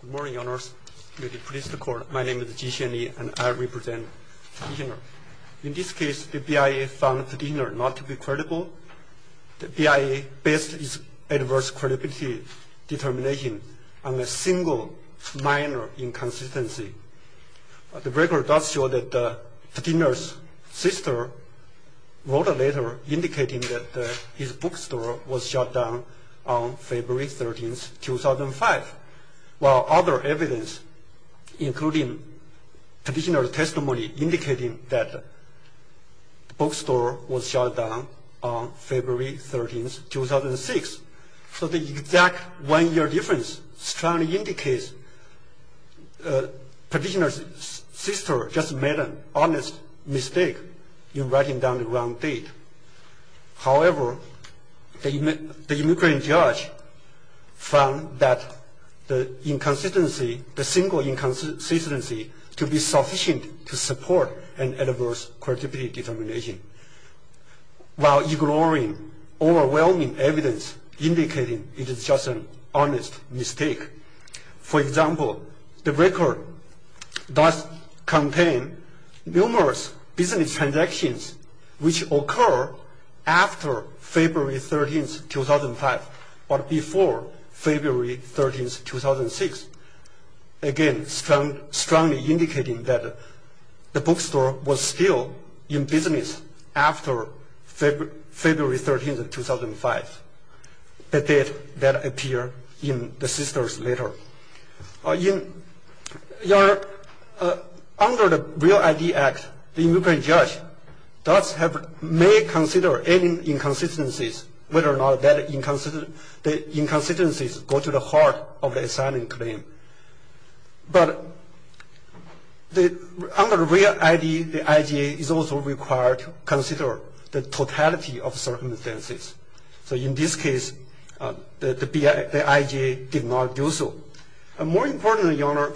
Good morning, your honors. May the police be called. My name is Ji Xianli, and I represent Petitioner. In this case, the BIA found Petitioner not to be credible. The BIA based its adverse credibility determination on a single minor inconsistency. The record does show that Petitioner's sister wrote a letter indicating that his bookstore was shut down on February 13, 2005. While other evidence, including Petitioner's testimony indicating that the bookstore was shut down on February 13, 2006. So the exact one year difference strongly indicates Petitioner's sister just made an honest mistake in writing down the wrong date. However, the immigrant judge found that the inconsistency, the single inconsistency, to be sufficient to support an adverse credibility determination. While ignoring overwhelming evidence indicating it is just an honest mistake. For example, the record does contain numerous business transactions which occur after February 13, 2005 or before February 13, 2006. Again, strongly indicating that the bookstore was still in business after February 13, 2005, the date that appeared in the sister's letter. Under the REAL ID Act, the immigrant judge may consider any inconsistencies, whether or not the inconsistencies go to the heart of the asylum claim. But under REAL ID, the IGA is also required to consider the totality of circumstances. So in this case, the IGA did not do so. More importantly, Your Honor,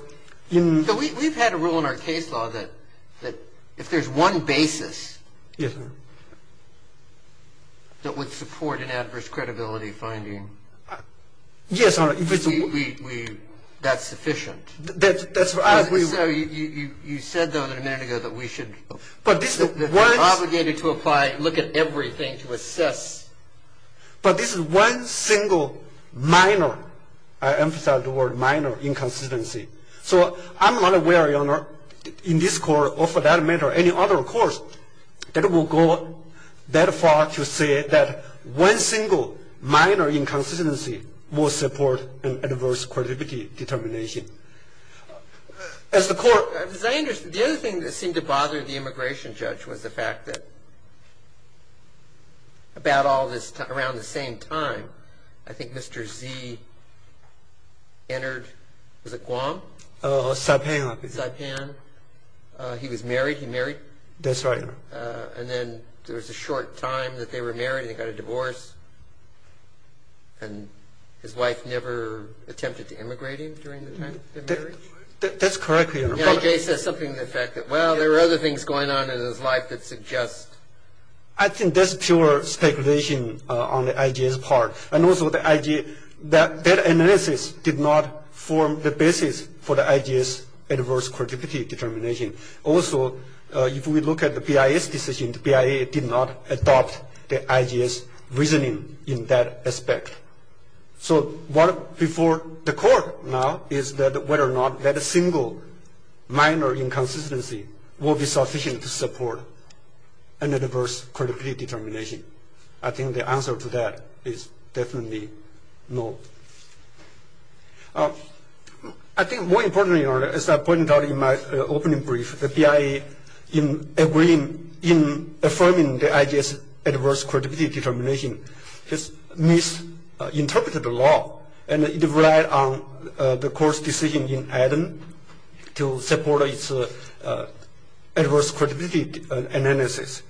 in... We've had a rule in our case law that if there's one basis that would support an adverse credibility finding, that's sufficient. So you said, though, a minute ago that we should... But this is one... ...that we're obligated to apply, look at everything to assess. But this is one single minor, I emphasize the word minor, inconsistency. So I'm not aware, Your Honor, in this court or for that matter any other courts that will go that far to say that one single minor inconsistency will support an adverse credibility determination. As the court... Saipan. Saipan. He was married, he married. That's right, Your Honor. And then there was a short time that they were married and they got a divorce. And his wife never attempted to immigrate him during the time of their marriage? That's correct, Your Honor. The IGA says something to the effect that, well, there were other things going on in his life that suggest... I think that's pure speculation on the IGA's part. And also the IGA, that analysis did not form the basis for the IGA's adverse credibility determination. Also, if we look at the BIA's decision, the BIA did not adopt the IGA's reasoning in that aspect. So what before the court now is that whether or not that a single minor inconsistency will be sufficient to support an adverse credibility determination. I think the answer to that is definitely no. I think more importantly, Your Honor, as I pointed out in my opening brief, the BIA, in agreeing, in affirming the IGA's adverse credibility determination, misinterpreted the law and relied on the court's decision in Aden to support its adverse credibility analysis.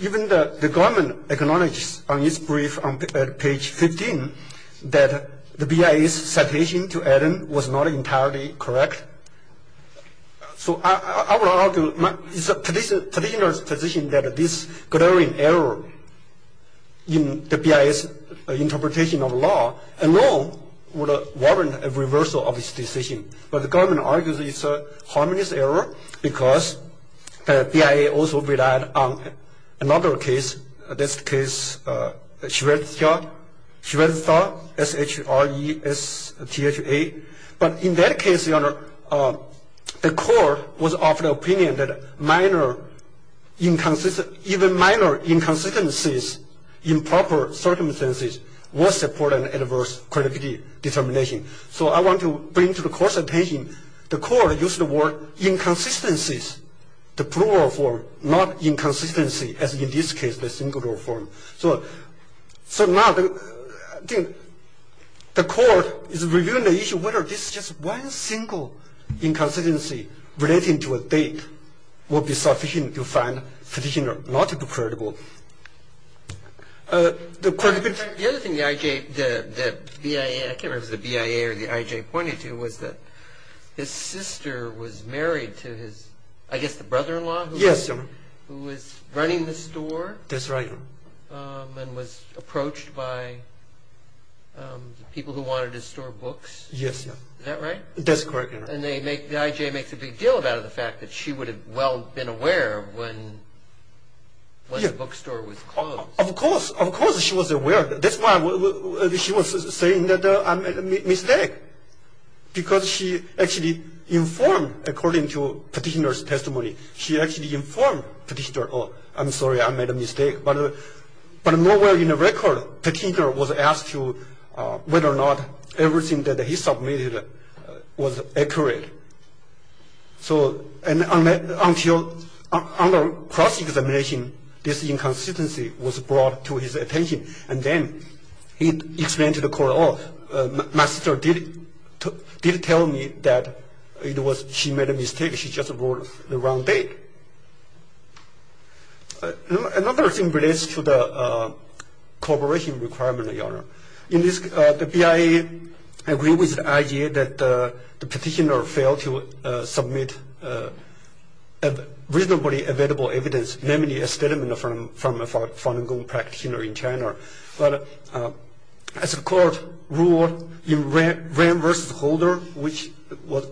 Even the government acknowledged on its brief on page 15 that the BIA's citation to Aden was not entirely correct. So I would argue it's a traditional position that this glaring error in the BIA's interpretation of law alone would warrant a reversal of its decision. But the government argues it's a harmonious error because the BIA also relied on another case, in this case, Shredtha. Shredtha, S-H-R-E-S-T-H-A. But in that case, Your Honor, the court was of the opinion that even minor inconsistencies in proper circumstances will support an adverse credibility determination. So I want to bring to the court's attention the court used the word inconsistencies, the plural form, not inconsistency, as in this case, the singular form. So now the court is reviewing the issue whether this just one single inconsistency relating to a date will be sufficient to find the petitioner not credible. The other thing the BIA, I can't remember if it was the BIA or the IJ pointed to, was that his sister was married to his, I guess the brother-in-law? Yes, Your Honor. Who was running the store? That's right, Your Honor. And was approached by the people who wanted to store books? Yes. Is that right? That's correct, Your Honor. And the IJ makes a big deal about it, the fact that she would have well been aware when the bookstore was closed. Of course. Of course she was aware. That's why she was saying that I made a mistake, because she actually informed, according to petitioner's testimony, she actually informed petitioner, oh, I'm sorry, I made a mistake. But nowhere in the record petitioner was asked whether or not everything that he submitted was accurate. So until on the cross-examination, this inconsistency was brought to his attention, and then he explained to the court, my sister did tell me that she made a mistake, she just wrote the wrong date. Another thing relates to the cooperation requirement, Your Honor. The BIA agreed with the IJ that the petitioner failed to submit reasonably available evidence, namely a statement from a Falun Gong practitioner in China. But as the court ruled in Rehm v. Holder, which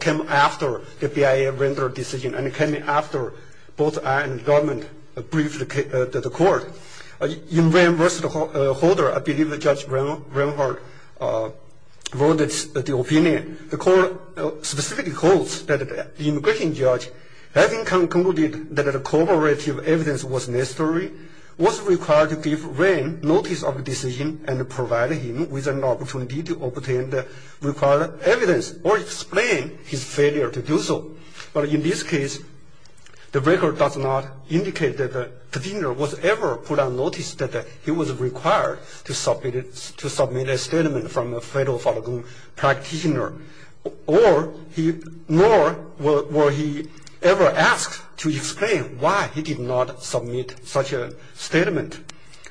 came after the BIA rendered decision and came after both IJ and government briefed the court, in Rehm v. Holder, I believe Judge Rehm wrote the opinion. The court specifically holds that the immigration judge, having concluded that the cooperative evidence was necessary, was required to give Rehm notice of decision and provide him with an opportunity to obtain the required evidence or explain his failure to do so. But in this case, the record does not indicate that the petitioner was ever put on notice that he was required to submit a statement from a fellow Falun Gong practitioner, nor were he ever asked to explain why he did not submit such a statement.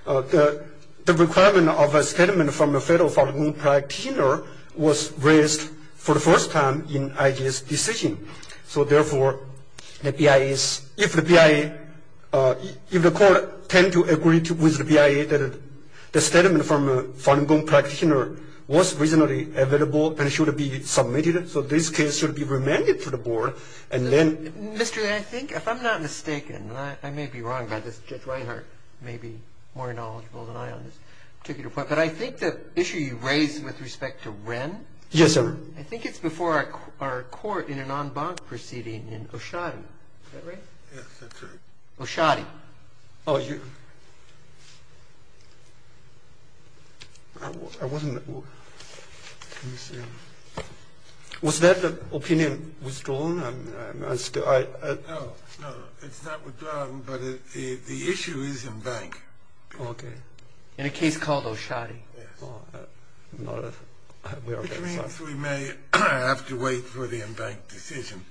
The requirement of a statement from a fellow Falun Gong practitioner was raised for the first time in IJ's decision. So therefore, the BIA is, if the BIA, if the court tend to agree with the BIA that the statement from a Falun Gong practitioner was reasonably available and should be submitted, so this case should be remanded to the board, and then... Mr. Yuan, I think if I'm not mistaken, and I may be wrong about this, Judge Reinhart may be more knowledgeable than I am on this particular point, but I think the issue you raised with respect to Rehm... Yes, sir. I think it's before our court in a non-bank proceeding in Oshadi, is that right? Yes, that's right. Oshadi. Oh, you... I wasn't... Let me see. Was that opinion withdrawn? No, no, it's not withdrawn, but the issue is in bank. Okay. In a case called Oshadi. Yes. Which means we may have to wait for the in-bank decision,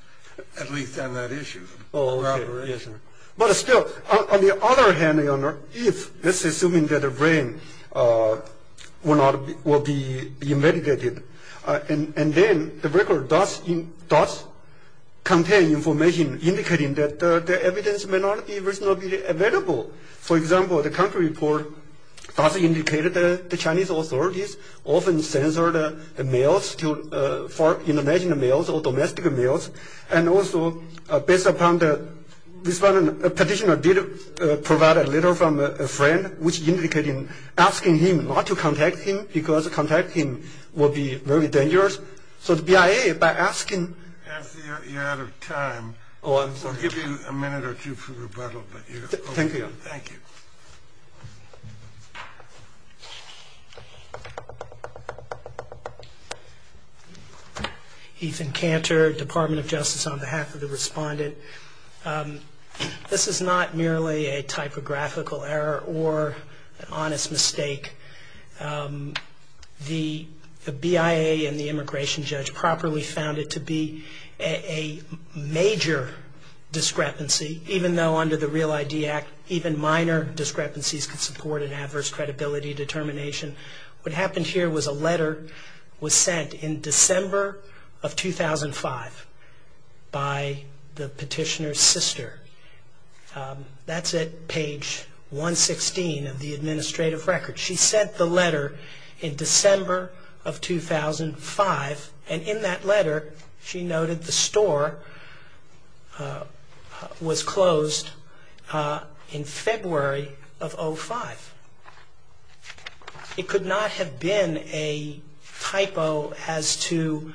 at least on that issue. Oh, okay, yes, sir. But still, on the other hand, Your Honor, if, let's assume that Rehm will be remanded, and then the record does contain information indicating that the evidence may not be reasonably available, for example, the country report does indicate that the Chinese authorities often censored mails, international mails or domestic mails, and also, based upon the petitioner did provide a letter from a friend, which indicated asking him not to contact him, because contacting him would be very dangerous. So the BIA, by asking... I see you're out of time. Oh, I'm sorry. I'll give you a minute or two for rebuttal, but you... Thank you, Your Honor. Thank you. Ethan Cantor, Department of Justice, on behalf of the respondent. This is not merely a typographical error or an honest mistake. The BIA and the immigration judge properly found it to be a major discrepancy, even though under the REAL ID Act even minor discrepancies could support an adverse credibility determination. What happened here was a letter was sent in December of 2005 by the petitioner's sister. That's at page 116 of the administrative record. She sent the letter in December of 2005, and in that letter she noted the store was closed in February of 05. It could not have been a typo as to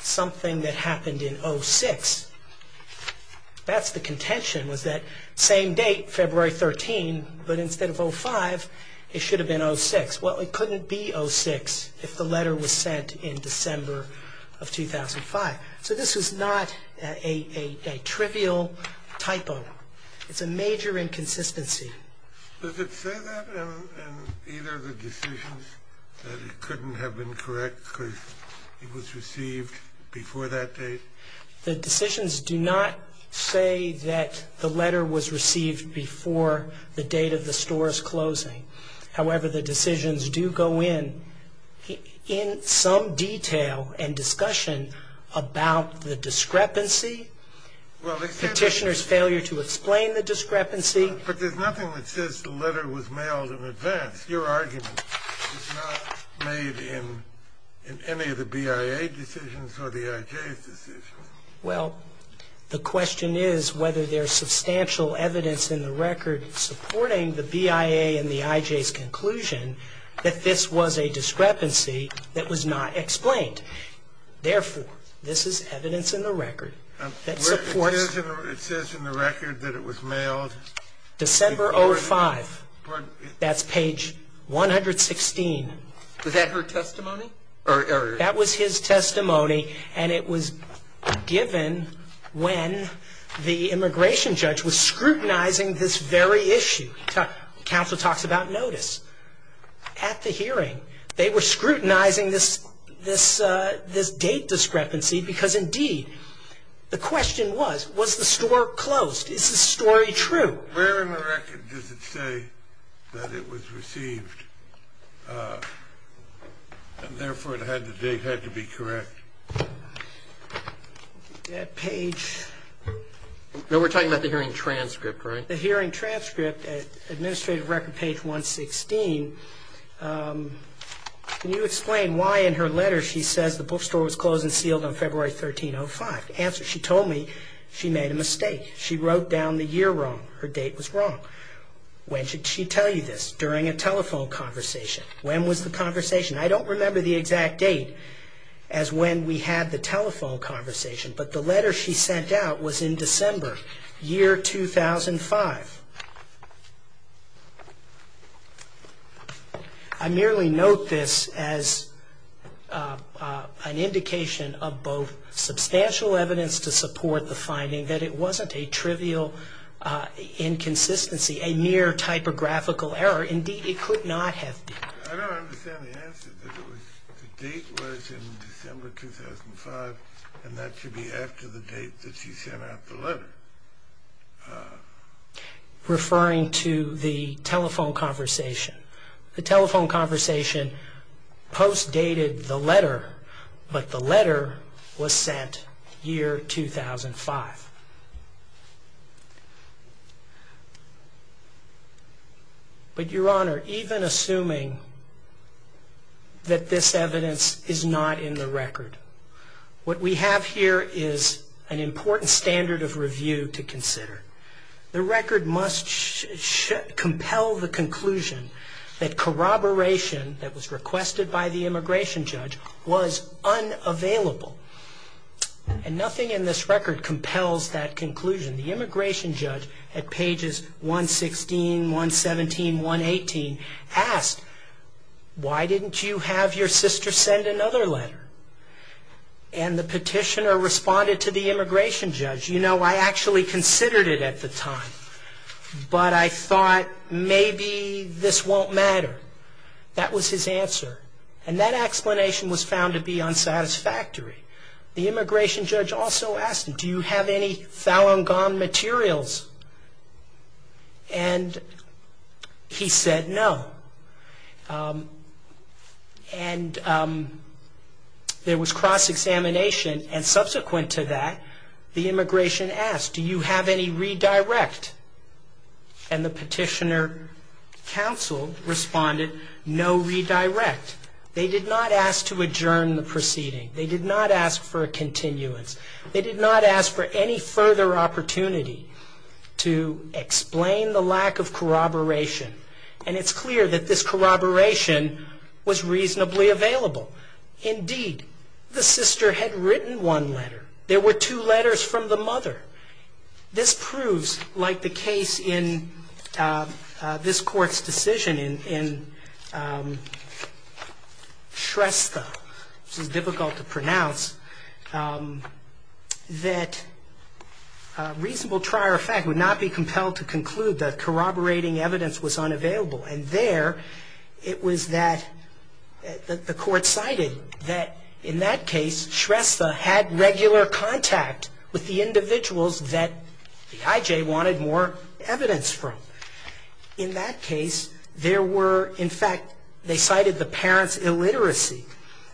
something that happened in 06. That's the contention, was that same date, February 13, but instead of 05, it should have been 06. Well, it couldn't be 06 if the letter was sent in December of 2005. So this was not a trivial typo. It's a major inconsistency. Does it say that in either of the decisions that it couldn't have been correct because it was received before that date? The decisions do not say that the letter was received before the date of the store's closing. However, the decisions do go in in some detail and discussion about the discrepancy, the petitioner's failure to explain the discrepancy. But there's nothing that says the letter was mailed in advance. Your argument is not made in any of the BIA decisions or the IJ's decisions. Well, the question is whether there's substantial evidence in the record supporting the BIA and the IJ's conclusion that this was a discrepancy that was not explained. Therefore, this is evidence in the record that supports... It says in the record that it was mailed... 116. Was that her testimony? That was his testimony, and it was given when the immigration judge was scrutinizing this very issue. Counsel talks about notice. At the hearing, they were scrutinizing this date discrepancy because, indeed, the question was, was the store closed? Is the story true? Where in the record does it say that it was received and, therefore, the date had to be correct? That page... No, we're talking about the hearing transcript, right? The hearing transcript, Administrative Record page 116. Can you explain why in her letter she says the bookstore was closed and sealed on February 1305? Answer, she told me she made a mistake. She wrote down the year wrong. Her date was wrong. When should she tell you this? During a telephone conversation. When was the conversation? I don't remember the exact date as when we had the telephone conversation, but the letter she sent out was in December, year 2005. I merely note this as an indication of both substantial evidence to support the finding that it wasn't a trivial inconsistency, a mere typographical error. Indeed, it could not have been. I don't understand the answer. The date was in December 2005, and that should be after the date that she sent out the letter. Referring to the telephone conversation, the telephone conversation post-dated the letter, but the letter was sent year 2005. But, Your Honor, even assuming that this evidence is not in the record, what we have here is an important standard of review to consider. The record must compel the conclusion that corroboration that was requested by the immigration judge was unavailable, and nothing in this record compels that conclusion. The immigration judge, at pages 116, 117, 118, asked, Why didn't you have your sister send another letter? And the petitioner responded to the immigration judge, You know, I actually considered it at the time, but I thought maybe this won't matter. That was his answer. And that explanation was found to be unsatisfactory. The immigration judge also asked him, Do you have any Falun Gong materials? And he said no. And there was cross-examination, and subsequent to that, the immigration asked, Do you have any redirect? And the petitioner counsel responded, No redirect. They did not ask to adjourn the proceeding. They did not ask for a continuance. They did not ask for any further opportunity to explain the lack of corroboration. And it's clear that this corroboration was reasonably available. Indeed, the sister had written one letter. There were two letters from the mother. This proves, like the case in this Court's decision in Shrestha, which is difficult to pronounce, that a reasonable trier of fact would not be compelled to conclude that corroborating evidence was unavailable. And there, it was that the Court cited that in that case, Shrestha had regular contact with the individuals that the IJ wanted more evidence from. In that case, there were, in fact, they cited the parents' illiteracy.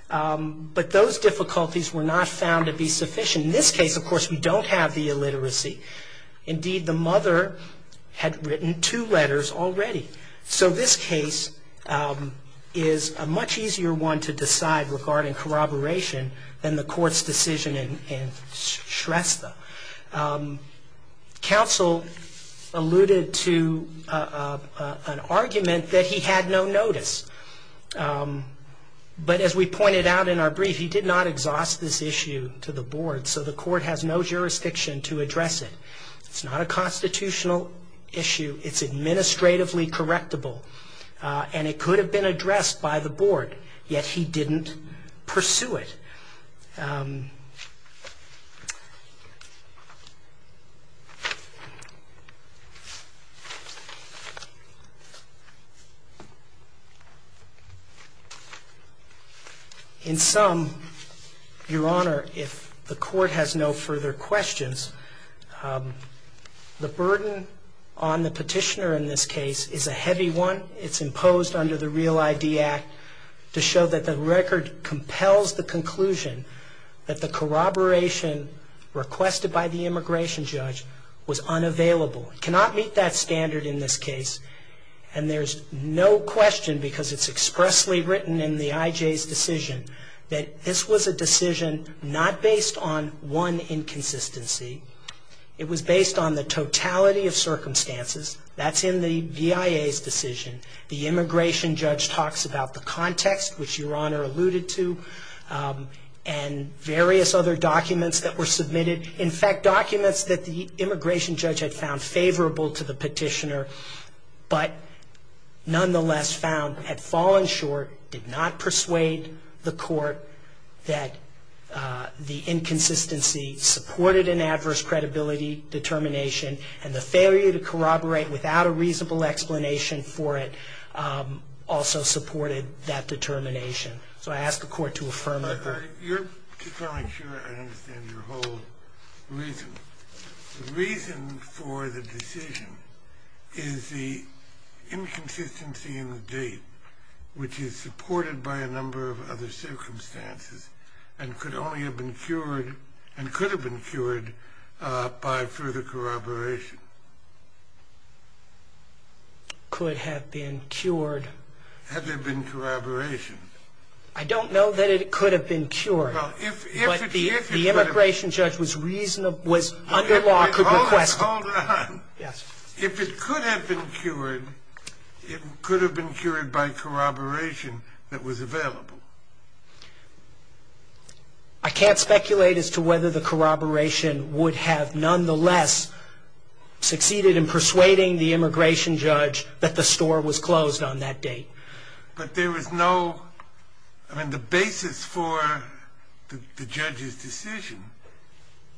But those difficulties were not found to be sufficient. In this case, of course, we don't have the illiteracy. Indeed, the mother had written two letters already. So this case is a much easier one to decide regarding corroboration than the Court's decision in Shrestha. Counsel alluded to an argument that he had no notice. But as we pointed out in our brief, he did not exhaust this issue to the board. So the Court has no jurisdiction to address it. It's not a constitutional issue. It's administratively correctable. And it could have been addressed by the board, yet he didn't pursue it. In sum, Your Honor, if the Court has no further questions, the burden on the petitioner in this case is a heavy one. It's imposed under the REAL ID Act to show that the record compels the conclusion that the corroboration requested by the immigration judge was unavailable. It cannot meet that standard in this case. And there's no question, because it's expressly written in the IJ's decision, that this was a decision not based on one inconsistency. It was based on the totality of circumstances. That's in the VIA's decision. The immigration judge talks about the context, which Your Honor alluded to, and various other documents that were submitted. In fact, documents that the immigration judge had found favorable to the petitioner, but nonetheless had fallen short, did not persuade the Court that the inconsistency supported an adverse credibility determination and the failure to corroborate without a reasonable explanation for it also supported that determination. So I ask the Court to affirm that. Your Honor, if you're feeling sure, I understand your whole reason. The reason for the decision is the inconsistency in the date, which is supported by a number of other circumstances and could only have been cured, and could have been cured, by further corroboration. Could have been cured? Had there been corroboration? I don't know that it could have been cured, but the immigration judge was reasonable, was under law, could request it. Hold on. Yes. If it could have been cured, it could have been cured by corroboration that was available. I can't speculate as to whether the corroboration would have nonetheless succeeded in persuading the immigration judge that the store was closed on that date. But there was no... I mean, the basis for the judge's decision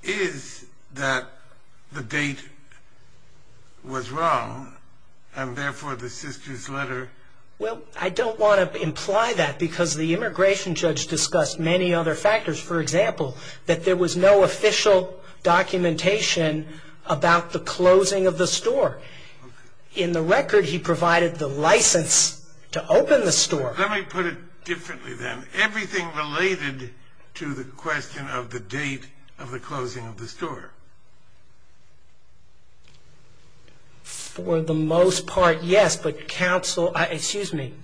is that the date was wrong, and therefore the sister's letter... Well, I don't want to imply that, because the immigration judge discussed many other factors. For example, that there was no official documentation about the closing of the store. In the record, he provided the license to open the store. Let me put it differently, then. Everything related to the question of the date of the closing of the store. For the most part, yes. But counsel... Excuse me.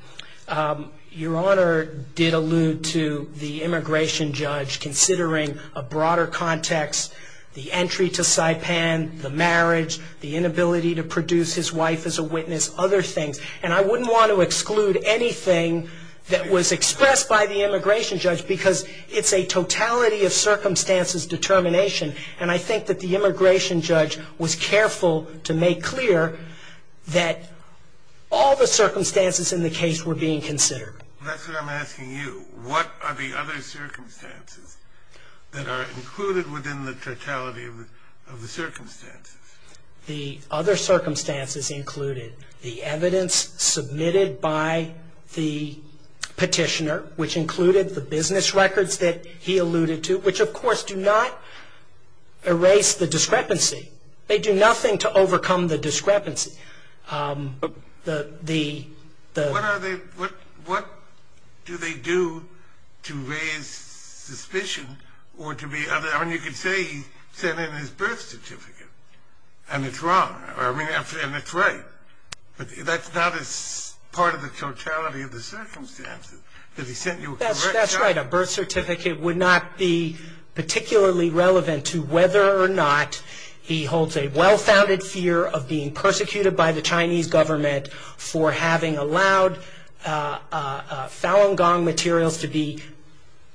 Your Honor did allude to the immigration judge considering a broader context, the entry to Saipan, the marriage, the inability to produce his wife as a witness, other things. And I wouldn't want to exclude anything that was expressed by the immigration judge, because it's a totality of circumstances determination. And I think that the immigration judge was careful to make clear that all the circumstances in the case were being considered. That's what I'm asking you. What are the other circumstances that are included within the totality of the circumstances? The other circumstances included the evidence submitted by the petitioner, which included the business records that he alluded to, which, of course, do not erase the discrepancy. They do nothing to overcome the discrepancy. What do they do to raise suspicion or to be... I mean, you could say he sent in his birth certificate, and it's wrong, and it's right. But that's not as part of the totality of the circumstances. That's right. A birth certificate would not be particularly relevant to whether or not he holds a well-founded fear of being persecuted by the Chinese government for having allowed Falun Gong materials to be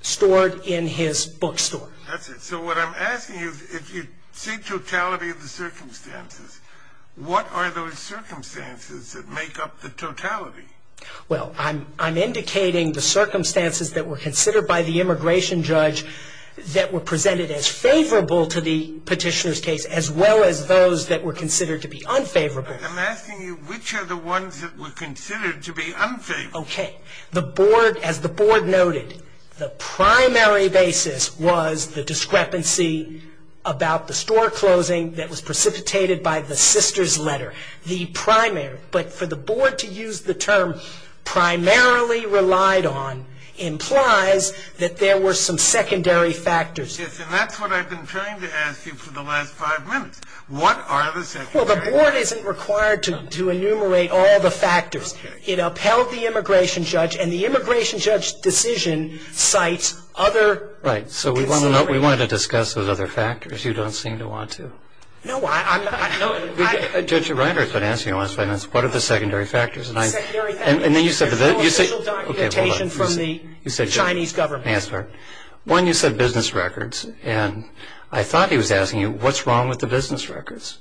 stored in his bookstore. That's it. So what I'm asking you, if you say totality of the circumstances, what are those circumstances that make up the totality? Well, I'm indicating the circumstances that were considered by the immigration judge that were presented as favorable to the petitioner's case, as well as those that were considered to be unfavorable. I'm asking you which are the ones that were considered to be unfavorable. Okay. As the board noted, the primary basis was the discrepancy about the store closing that was precipitated by the sister's letter. But for the board to use the term primarily relied on implies that there were some secondary factors. Yes, and that's what I've been trying to ask you for the last five minutes. What are the secondary factors? Well, the board isn't required to enumerate all the factors. It upheld the immigration judge, and the immigration judge's decision cites other considerations. Right. So we wanted to discuss those other factors. You don't seem to want to. No, I'm not. Judge Reinhart's been asking you the last five minutes, what are the secondary factors? The secondary factors are the official documentation from the Chinese government. Yes, sir. One, you said business records, and I thought he was asking you, what's wrong with the business records?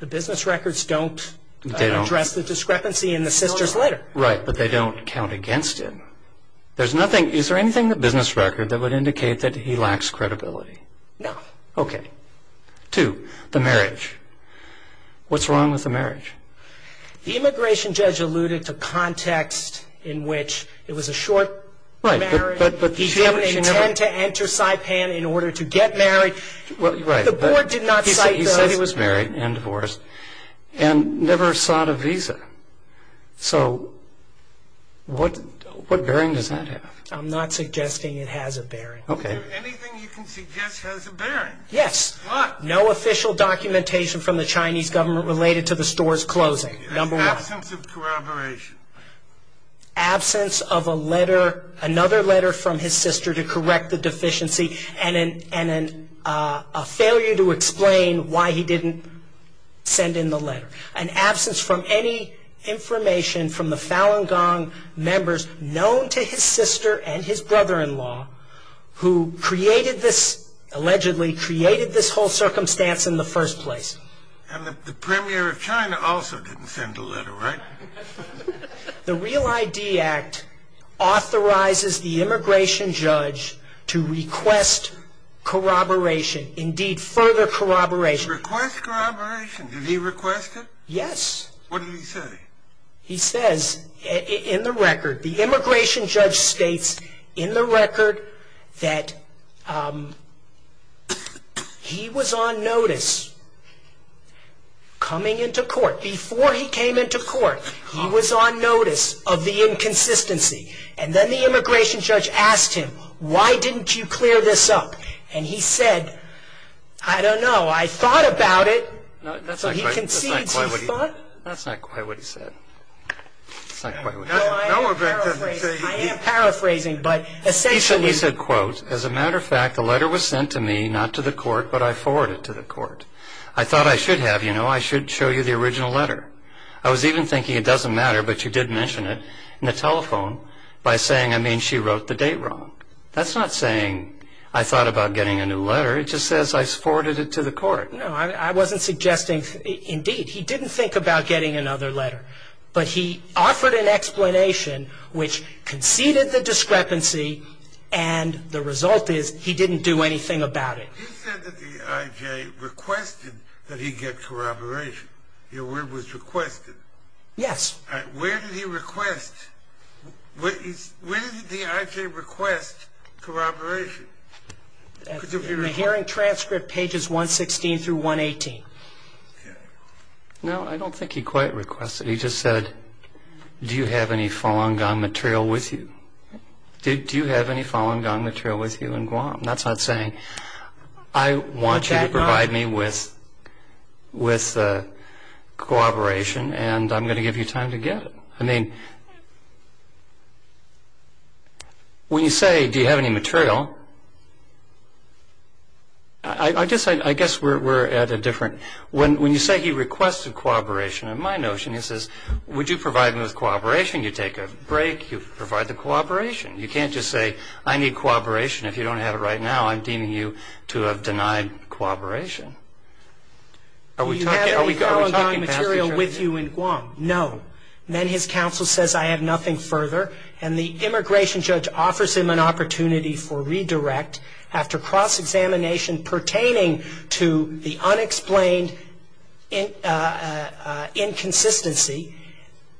The business records don't address the discrepancy in the sister's letter. Right, but they don't count against him. Is there anything in the business record that would indicate that he lacks credibility? No. Okay. Two, the marriage. What's wrong with the marriage? The immigration judge alluded to context in which it was a short marriage. He didn't intend to enter Saipan in order to get married. The board did not cite those. He said he was married and divorced and never sought a visa. So what bearing does that have? I'm not suggesting it has a bearing. Okay. Is there anything you can suggest has a bearing? Yes. What? No official documentation from the Chinese government related to the store's closing, number one. Absence of corroboration. Absence of another letter from his sister to correct the deficiency and a failure to explain why he didn't send in the letter. An absence from any information from the Falun Gong members known to his sister and his brother-in-law who allegedly created this whole circumstance in the first place. And the premier of China also didn't send a letter, right? The Real ID Act authorizes the immigration judge to request corroboration, indeed further corroboration. Request corroboration? Did he request it? Yes. What did he say? He says in the record, the immigration judge states in the record that he was on notice coming into court. Before he came into court, he was on notice of the inconsistency. And then the immigration judge asked him, why didn't you clear this up? And he said, I don't know, I thought about it. So he concedes he thought. That's not quite what he said. That's not quite what he said. No, I am paraphrasing. I am paraphrasing, but essentially he said, quote, as a matter of fact, the letter was sent to me, not to the court, but I forwarded it to the court. I thought I should have, you know, I should show you the original letter. I was even thinking it doesn't matter, but you did mention it in the telephone by saying, I mean, she wrote the date wrong. That's not saying I thought about getting a new letter. It just says I forwarded it to the court. No, I wasn't suggesting, indeed. He didn't think about getting another letter. But he offered an explanation which conceded the discrepancy, and the result is he didn't do anything about it. He said that the IJ requested that he get corroboration. Your word was requested. Yes. Where did he request, where did the IJ request corroboration? The hearing transcript, pages 116 through 118. No, I don't think he quite requested. He just said, do you have any Falun Gong material with you? Do you have any Falun Gong material with you in Guam? That's not saying, I want you to provide me with corroboration, and I'm going to give you time to get it. I mean, when you say, do you have any material, I guess we're at a different, when you say he requested corroboration, in my notion, he says, would you provide me with corroboration? You take a break, you provide the corroboration. You can't just say, I need corroboration. If you don't have it right now, I'm deeming you to have denied corroboration. Do you have any Falun Gong material with you in Guam? No. Then his counsel says, I have nothing further, and the immigration judge offers him an opportunity for redirect after cross-examination pertaining to the unexplained inconsistency,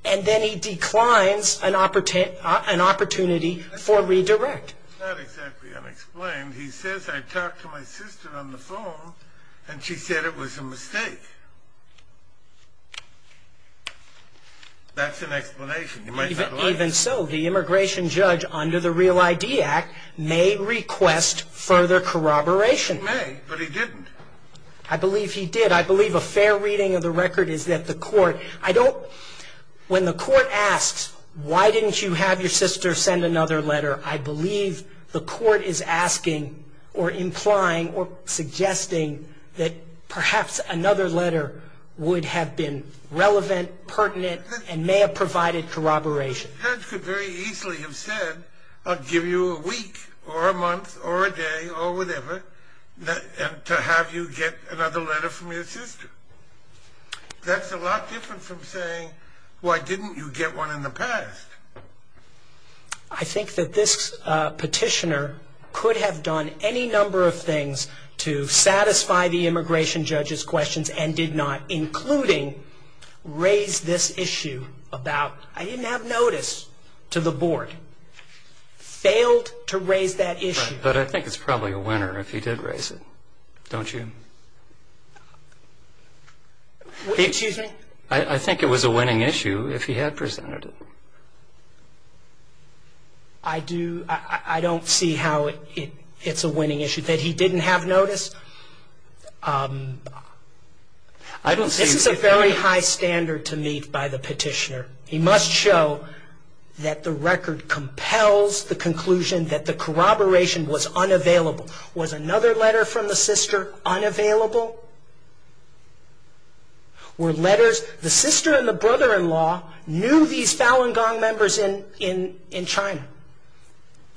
and then he declines an opportunity for redirect. It's not exactly unexplained. He says, I talked to my sister on the phone, and she said it was a mistake. That's an explanation. Even so, the immigration judge, under the Real ID Act, may request further corroboration. He may, but he didn't. I believe he did. I believe a fair reading of the record is that the court, I don't, when the court asks, why didn't you have your sister send another letter, I believe the court is asking or implying or suggesting that perhaps another letter would have been relevant, pertinent, and may have provided corroboration. The judge could very easily have said, I'll give you a week or a month or a day or whatever to have you get another letter from your sister. That's a lot different from saying, why didn't you get one in the past? I think that this petitioner could have done any number of things to satisfy the immigration judge's questions and did not, including raise this issue about, I didn't have notice to the board, failed to raise that issue. But I think it's probably a winner if he did raise it, don't you? Excuse me? I think it was a winning issue if he had presented it. I don't see how it's a winning issue, that he didn't have notice. This is a very high standard to meet by the petitioner. He must show that the record compels the conclusion that the corroboration was unavailable. Was another letter from the sister unavailable? Were letters, the sister and the brother-in-law knew these Falun Gong members in China.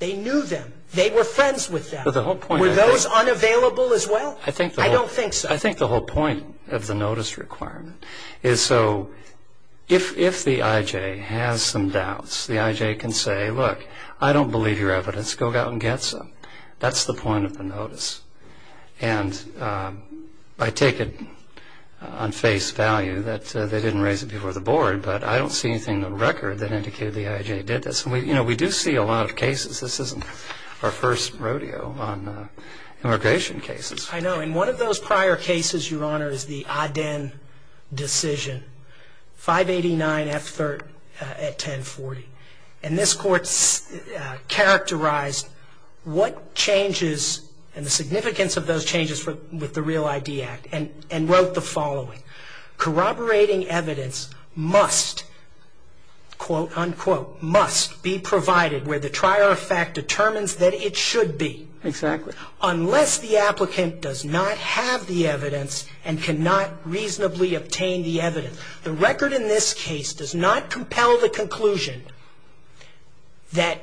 They knew them. They were friends with them. Were those unavailable as well? I don't think so. I think the whole point of the notice requirement is so if the IJ has some doubts, the IJ can say, look, I don't believe your evidence, go out and get some. That's the point of the notice. And I take it on face value that they didn't raise it before the board, but I don't see anything in the record that indicated the IJ did this. And, you know, we do see a lot of cases. This isn't our first rodeo on immigration cases. I know. And one of those prior cases, Your Honor, is the Aden decision, 589F3rd at 1040. And this court characterized what changes and the significance of those changes with the Real ID Act and wrote the following. Corroborating evidence must, quote, unquote, must be provided where the trier of fact determines that it should be. Exactly. Unless the applicant does not have the evidence and cannot reasonably obtain the evidence. The record in this case does not compel the conclusion that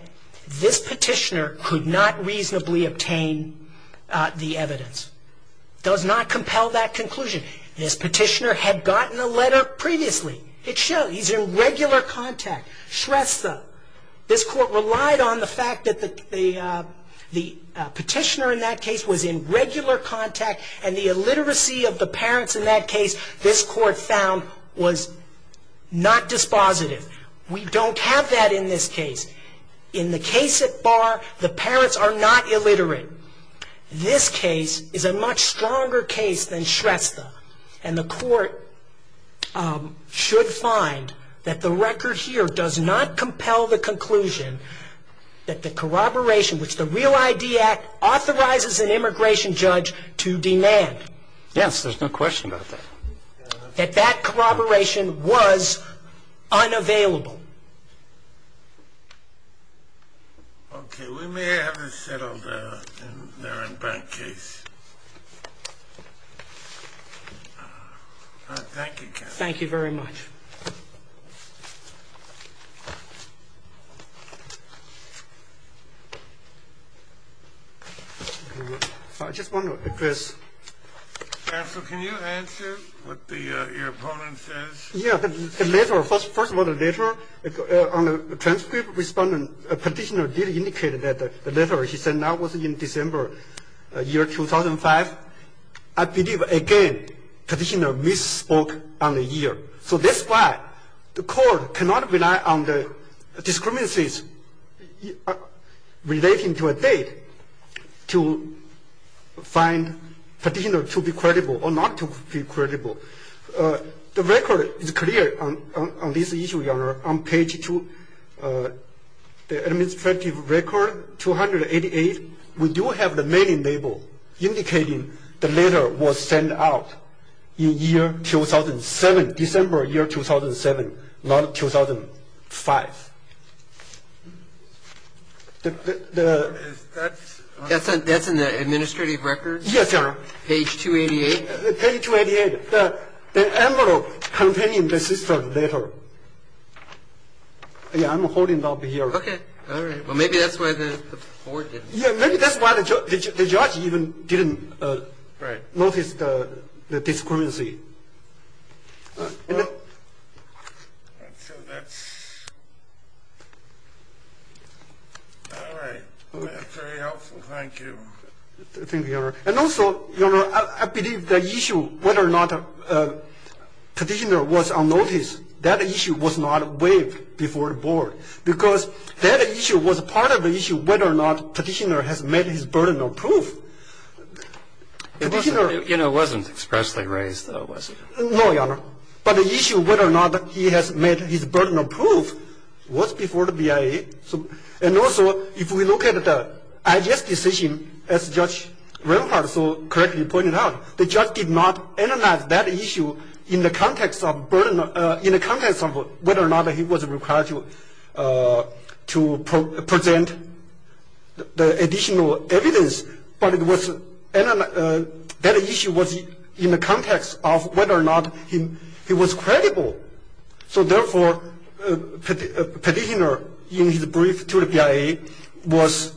this petitioner could not reasonably obtain the evidence. It does not compel that conclusion. This petitioner had gotten a letter previously. It showed he's in regular contact. Shrestha, this court relied on the fact that the petitioner in that case was in regular contact and the illiteracy of the parents in that case, this court found, was not dispositive. We don't have that in this case. In the case at bar, the parents are not illiterate. This case is a much stronger case than Shrestha. And the court should find that the record here does not compel the conclusion that the corroboration which the Real ID Act authorizes an immigration judge to demand. Yes, there's no question about that. That that corroboration was unavailable. Okay. We may have this settled in their in-bank case. Thank you. Thank you very much. I just want to address. Counsel, can you answer what your opponent says? Yeah. The letter, first of all, the letter, on the transcript respondent, petitioner did indicate that the letter he sent out was in December, year 2005. I believe, again, petitioner misspoke on the year. So that's why the court cannot rely on the discrepancies relating to a date to find petitioner to be credible or not to be credible. The record is clear on this issue, Your Honor. On page two, the administrative record, 288, we do have the mailing label indicating the letter was sent out in year 2007, December year 2007, not 2005. Is that? That's in the administrative record? Yes, Your Honor. Page 288? Page 288. The envelope containing the sister letter. Yeah, I'm holding it up here. Okay. All right. Well, maybe that's why the court didn't. Yeah, maybe that's why the judge even didn't notice the discrepancy. All right. That's very helpful. Thank you. Thank you, Your Honor. And also, Your Honor, I believe the issue whether or not petitioner was on notice, that issue was not waived before the board because that issue was part of the issue whether or not petitioner has met his burden of proof. You know, it wasn't expressly raised, though, was it? No, Your Honor. But the issue whether or not he has met his burden of proof was before the BIA. And also, if we look at the IHS decision, as Judge Rehnquart so correctly pointed out, the judge did not analyze that issue in the context of burden of – to present the additional evidence, but that issue was in the context of whether or not he was credible. So, therefore, petitioner, in his brief to the BIA, was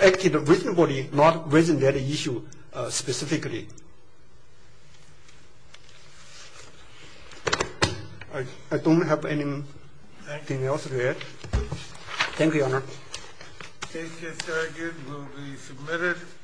acting reasonably, not raising that issue specifically. I don't have anything else to add.